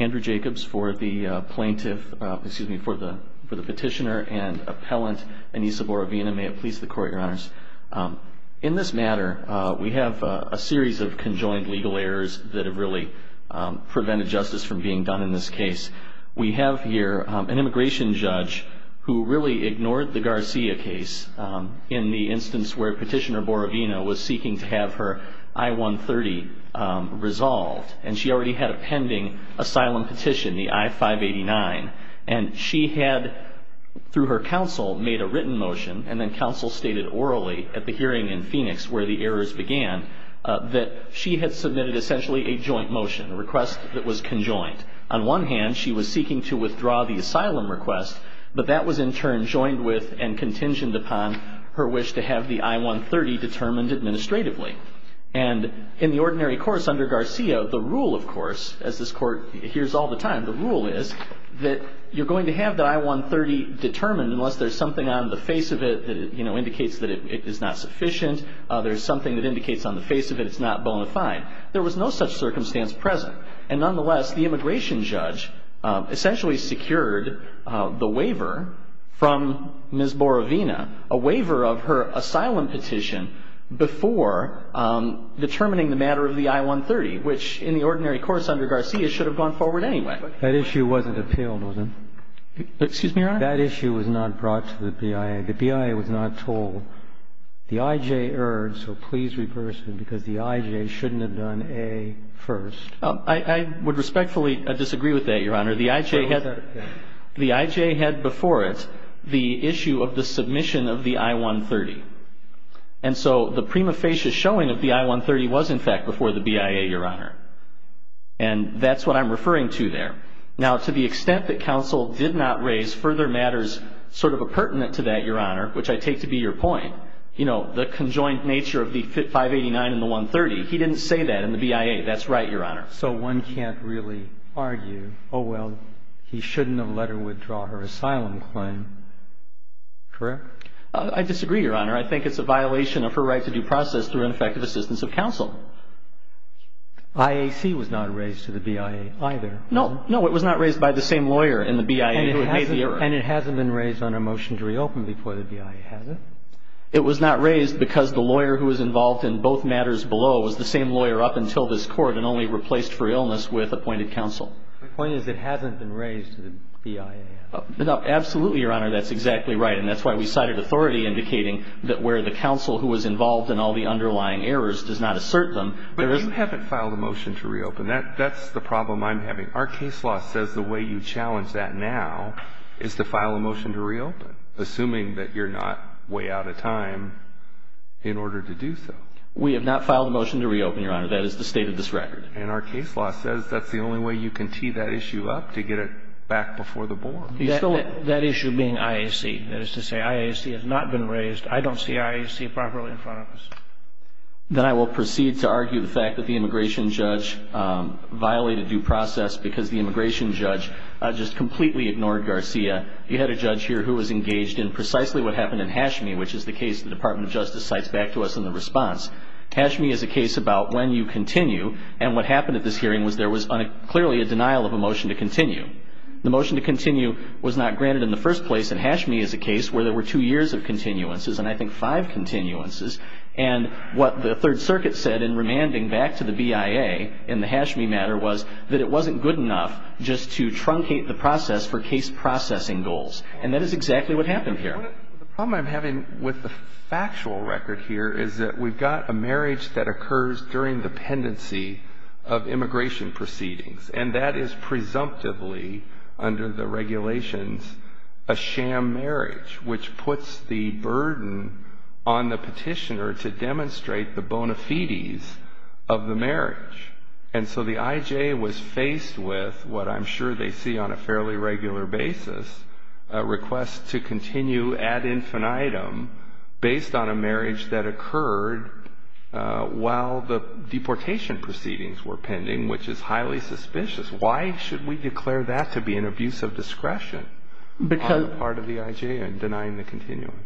Andrew Jacobs for the plaintiff excuse me for the for the petitioner and appellant Anissa Borovina may it please the court your honors in this matter we have a series of conjoined legal errors that have really prevented justice from being done in this case we have here an immigration judge who really ignored the Garcia case in the instance where petitioner Borovina was seeking to have her I-130 resolved and she already had a pending asylum petition the I-589 and she had through her counsel made a written motion and then counsel stated orally at the hearing in Phoenix where the errors began that she had submitted essentially a joint motion a request that was conjoined on one hand she was seeking to withdraw the asylum request but that was in turn joined with and in the ordinary course under Garcia the rule of course as this court hears all the time the rule is that you're going to have that I-130 determined unless there's something on the face of it that you know indicates that it is not sufficient there's something that indicates on the face of it it's not bona fide there was no such circumstance present and nonetheless the immigration judge essentially secured the waiver from Miss Borovina a waiver of her determination of the I-130 which in the ordinary course under Garcia should have gone forward anyway. That issue wasn't appealed, was it? Excuse me, Your Honor? That issue was not brought to the BIA. The BIA was not told the I-J erred so please reverse it because the I-J shouldn't have done A first. I would respectfully disagree with that, Your Honor. The I-J had the I-J had before it the issue of the I-130 was in fact before the BIA, Your Honor, and that's what I'm referring to there. Now to the extent that counsel did not raise further matters sort of appurtenant to that, Your Honor, which I take to be your point you know the conjoined nature of the 589 and the 130 he didn't say that in the BIA. That's right, Your Honor. So one can't really argue oh well he shouldn't have let her withdraw her asylum claim, correct? I disagree, Your Honor. I think it's a of counsel. IAC was not raised to the BIA either. No. No, it was not raised by the same lawyer in the BIA who had made the error. And it hasn't been raised on a motion to reopen before the BIA has it. It was not raised because the lawyer who was involved in both matters below was the same lawyer up until this court and only replaced for illness with appointed counsel. My point is it hasn't been raised to the BIA. Absolutely, Your Honor. That's exactly right. And that's why we cited authority indicating that where the counsel who was involved in all the underlying errors does not assert them. But you haven't filed a motion to reopen. That's the problem I'm having. Our case law says the way you challenge that now is to file a motion to reopen, assuming that you're not way out of time in order to do so. We have not filed a motion to reopen, Your Honor. That is the state of this record. And our case law says that's the only way you can tee that issue up to get it back before the board. That issue being IAC. That is to say IAC has not been raised. I don't see IAC properly in front of us. Then I will proceed to argue the fact that the immigration judge violated due process because the immigration judge just completely ignored Garcia. You had a judge here who was engaged in precisely what happened in Hashmi, which is the case the Department of Justice cites back to us in the response. Hashmi is a case about when you continue. And what happened at this hearing was there was clearly a denial of a motion to continue. The motion to continue was not granted in the first place. And Hashmi is a case where there were two years of continuances and I think five continuances. And what the Third Circuit said in remanding back to the BIA in the Hashmi matter was that it wasn't good enough just to truncate the process for case processing goals. And that is exactly what happened here. The problem I'm having with the factual record here is that we've got a marriage that occurs during the under the regulations, a sham marriage, which puts the burden on the petitioner to demonstrate the bona fides of the marriage. And so the IJ was faced with what I'm sure they see on a fairly regular basis, a request to continue ad infinitum based on a marriage that occurred while the deportation proceedings were pending, which is highly suspicious. Why should we declare that to be an abuse of discretion on the part of the IJ in denying the continuance?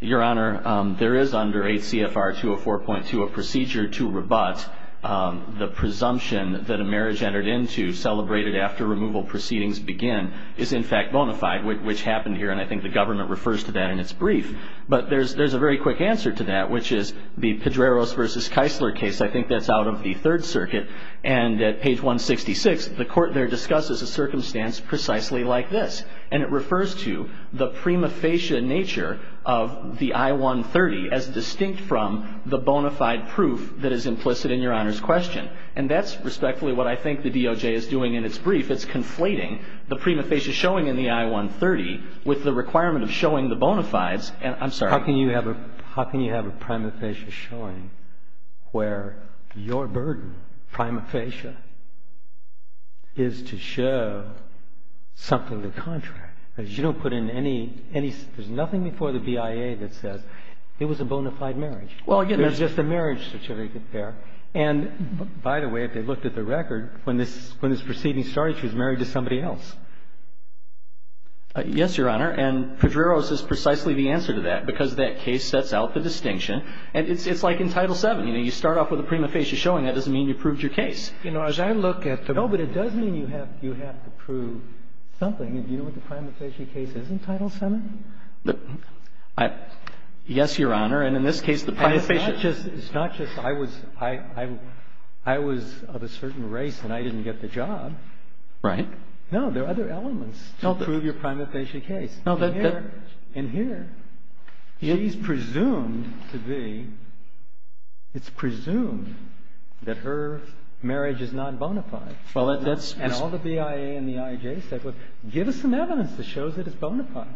Your Honor, there is under ACFR 204.2 a procedure to rebut the presumption that a marriage entered into celebrated after removal proceedings begin is in fact bona fide, which happened here. And I think the government refers to that in its brief. But there's a very quick answer to that, which is the Pedreros versus Keisler case. I think that's out of the Third Circuit. And at page 166, the court there discusses a circumstance precisely like this. And it refers to the prima facie nature of the I-130 as distinct from the bona fide proof that is implicit in Your Honor's question. And that's respectfully what I think the DOJ is doing in its brief. If it's conflating the prima facie showing in the I-130 with the requirement of showing the bona fides, and I'm sorry. How can you have a prima facie showing where your burden, prima facie, is to show something to the contrary? You don't put in any, there's nothing before the BIA that says it was a bona fide marriage. Well, again, that's just a marriage certificate there. And by the way, if they looked at the record, when this proceeding started, she was married to somebody else. Yes, Your Honor. And Pedreros is precisely the answer to that, because that case sets out the distinction. And it's like in Title VII. You know, you start off with a prima facie showing. That doesn't mean you proved your case. You know, as I look at the... No, but it does mean you have to prove something. And do you know what the prima facie case is in Title VII? Yes, Your Honor. And in this case, the prima facie... It's not just I was of a certain race and I didn't get the job. Right. No, there are other elements to prove your prima facie case. In here, she's presumed to be, it's presumed that her marriage is not bona fide. Well, that's... And all the BIA and the IJ said was, give us some evidence that shows it is bona fide.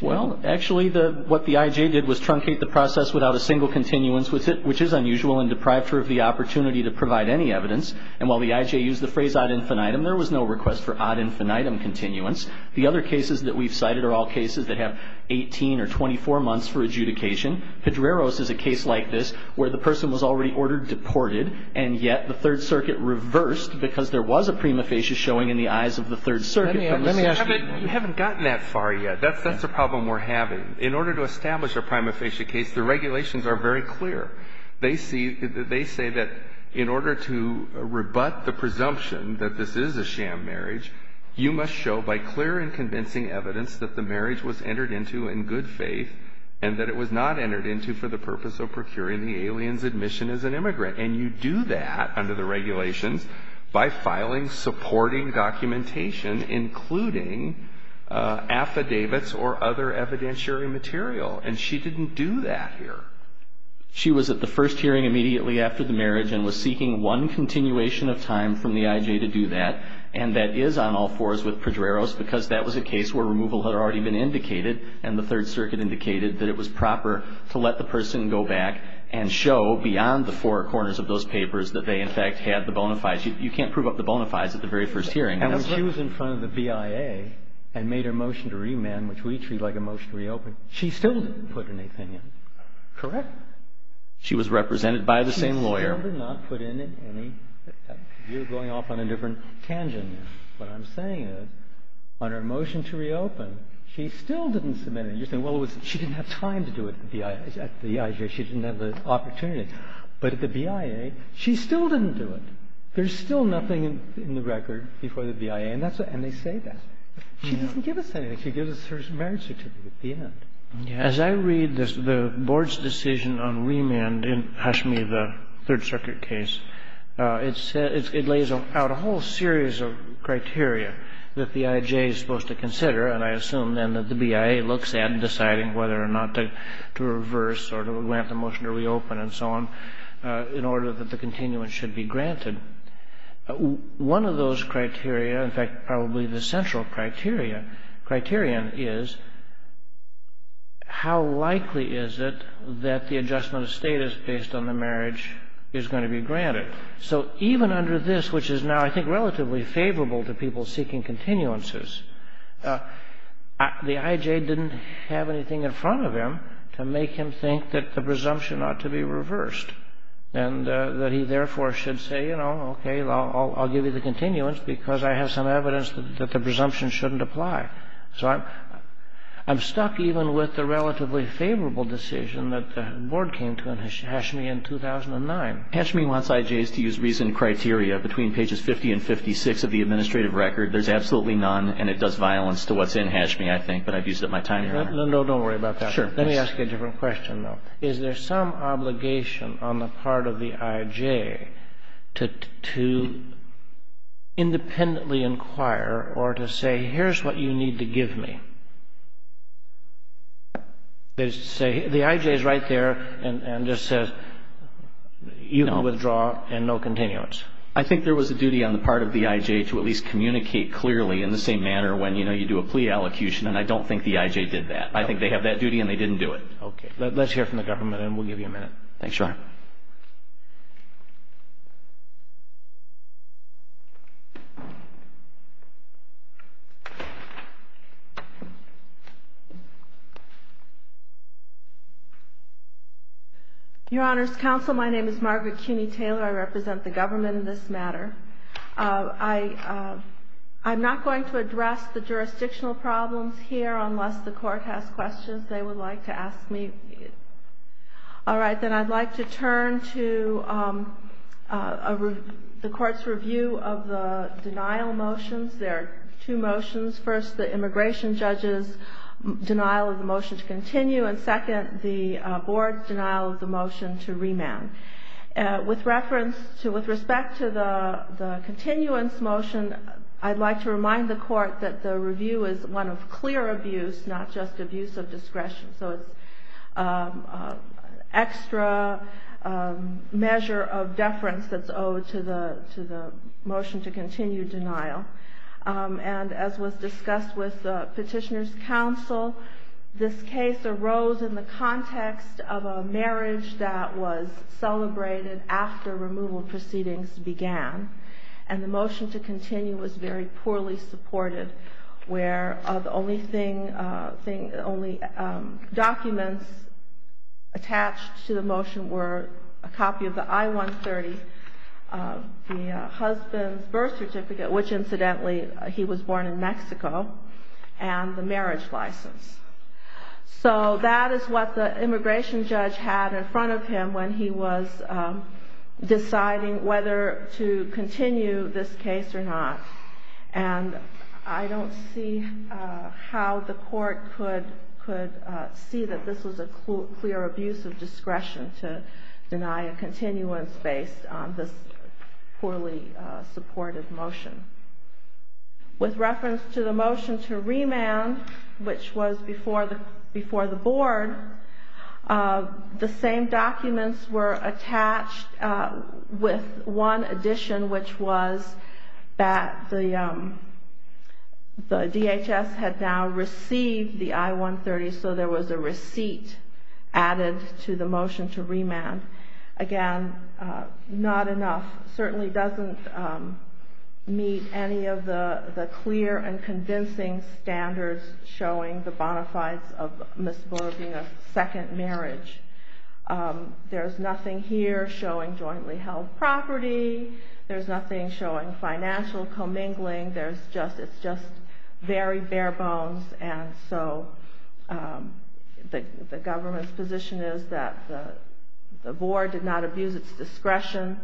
Well, actually, what the IJ did was truncate the process without a single continuance with it, which is unusual and deprived her of the opportunity to provide any evidence. And while the IJ used the phrase ad infinitum, there was no request for ad infinitum continuance. The other cases that we've cited are all cases that have 18 or 24 months for adjudication. Pedreros is a case like this where the person was already ordered deported, and yet the Third Circuit reversed because there was a prima facie showing in the eyes of the Third Circuit. Let me ask you... That's the problem we're having. In order to establish a prima facie case, the regulations are very clear. They say that in order to rebut the presumption that this is a sham marriage, you must show by clear and convincing evidence that the marriage was entered into in good faith and that it was not entered into for the purpose of procuring the alien's admission as an immigrant. And you do that under the regulations by filing supporting documentation, including affidavits or other evidentiary material, and she didn't do that here. She was at the first hearing immediately after the marriage and was seeking one continuation of time from the IJ to do that, and that is on all fours with Pedreros because that was a case where removal had already been indicated, and the Third Circuit indicated that it was proper to let the person go back and show beyond the four corners of those papers that they, in fact, had the bona fides. You can't prove up the bona fides at the very first hearing. And when she was in front of the BIA and made her motion to remand, which we treat like a motion to reopen, she still didn't put anything in, correct? She was represented by the same lawyer. She still did not put in any. You're going off on a different tangent. What I'm saying is on her motion to reopen, she still didn't submit anything. You're saying, well, she didn't have time to do it at the IJ. She didn't have the opportunity. But at the BIA, she still didn't do it. There's still nothing in the record before the BIA, and they say that. She doesn't give us anything. She gives us her marriage certificate at the end. As I read the Board's decision on remand in Hashimi, the Third Circuit case, it lays out a whole series of criteria that the IJ is supposed to consider, and I assume, then, that the BIA looks at in deciding whether or not to reverse or to grant the motion to reopen and so on in order that the continuance should be granted. One of those criteria, in fact, probably the central criterion, is how likely is it that the adjustment of status based on the marriage is going to be granted. So even under this, which is now, I think, relatively favorable to people seeking continuances, the IJ didn't have anything in front of him to make him think that the presumption ought to be reversed and that he, therefore, should say, you know, OK, I'll give you the continuance because I have some evidence that the presumption shouldn't apply. So I'm stuck even with the relatively favorable decision that the Board came to in Hashimi in 2009. Hashimi wants IJs to use reasoned criteria between pages 50 and 56 of the administrative record. There's absolutely none, and it does violence to what's in Hashimi, I think, but I've used it my time here. No, don't worry about that. Sure. Let me ask you a different question, though. Is there some obligation on the part of the IJ to independently inquire or to say, here's what you need to give me? They say the IJ is right there and just says you can withdraw and no continuance. I think there was a duty on the part of the IJ to at least communicate clearly in the same manner when, you know, you do a plea allocution, and I don't think the IJ did that. I think they have that duty, and they didn't do it. OK. Let's hear from the government, and we'll give you a minute. Thanks, Your Honor. Your Honor's counsel, my name is Margaret Cuney-Taylor. I represent the government in this matter. I'm not going to address the jurisdictional problems here unless the court has questions they would like to ask me. All right. Then I'd like to turn to the court's review of the denial motions. There are two motions. First, the immigration judge's denial of the motion to continue, and second, the board's denial of the motion to remand. With reference to with respect to the continuance motion, I'd like to remind the court that the review is one of clear abuse, not just abuse of discretion. So it's an extra measure of deference that's owed to the motion to continue denial. And as was discussed with the petitioner's counsel, this case arose in the context of a marriage that was celebrated after removal proceedings began. And the motion to continue was very poorly supported, where the only documents attached to the motion were a copy of the I-130, the husband's birth certificate, which, incidentally, he was born in Mexico, and the marriage license. So that is what the immigration judge had in front of him when he was deciding whether to continue this case or not. And I don't see how the court could see that this was a clear abuse of discretion to deny a continuance based on this poorly supported motion. With reference to the motion to remand, which was before the board, the same documents were attached with one addition, which was that the DHS had now received the I-130, so there was a receipt added to the motion to remand. Again, not enough. Certainly doesn't meet any of the clear and convincing standards showing the bona fides of Ms. Boer being a second marriage. There's nothing here showing jointly held property. There's nothing showing financial commingling. It's just very bare bones, and so the government's position is that the board did not abuse its discretion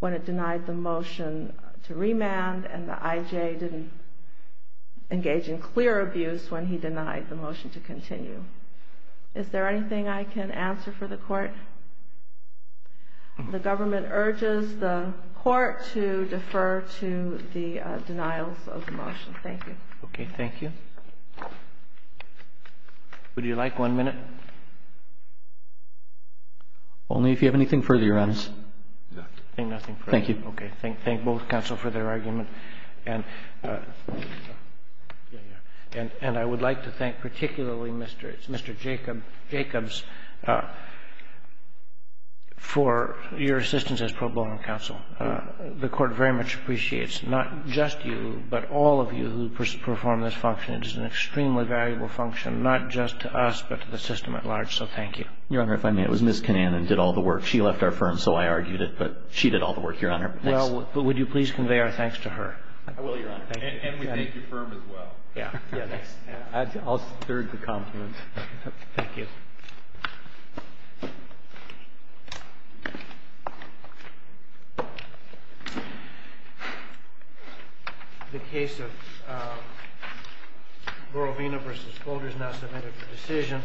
when it denied the motion to remand, and the IJ didn't engage in clear abuse when he denied the motion to continue. Is there anything I can answer for the court? The government urges the court to defer to the denials of the motion. Thank you. Okay, thank you. Would you like one minute? Only if you have anything further, Your Honor. Nothing further. Thank you. Okay. Thank both counsel for their argument. And I would like to thank particularly Mr. Jacobs for your assistance as pro bono counsel. The court very much appreciates not just you, but all of you who perform this function. It is an extremely valuable function, not just to us, but to the system at large. So thank you. Your Honor, if I may, it was Ms. Canan that did all the work. She left our firm, so I argued it, but she did all the work, Your Honor. Well, would you please convey our thanks to her? I will, Your Honor. And we thank your firm as well. Yes. I'll third the compliments. Thank you.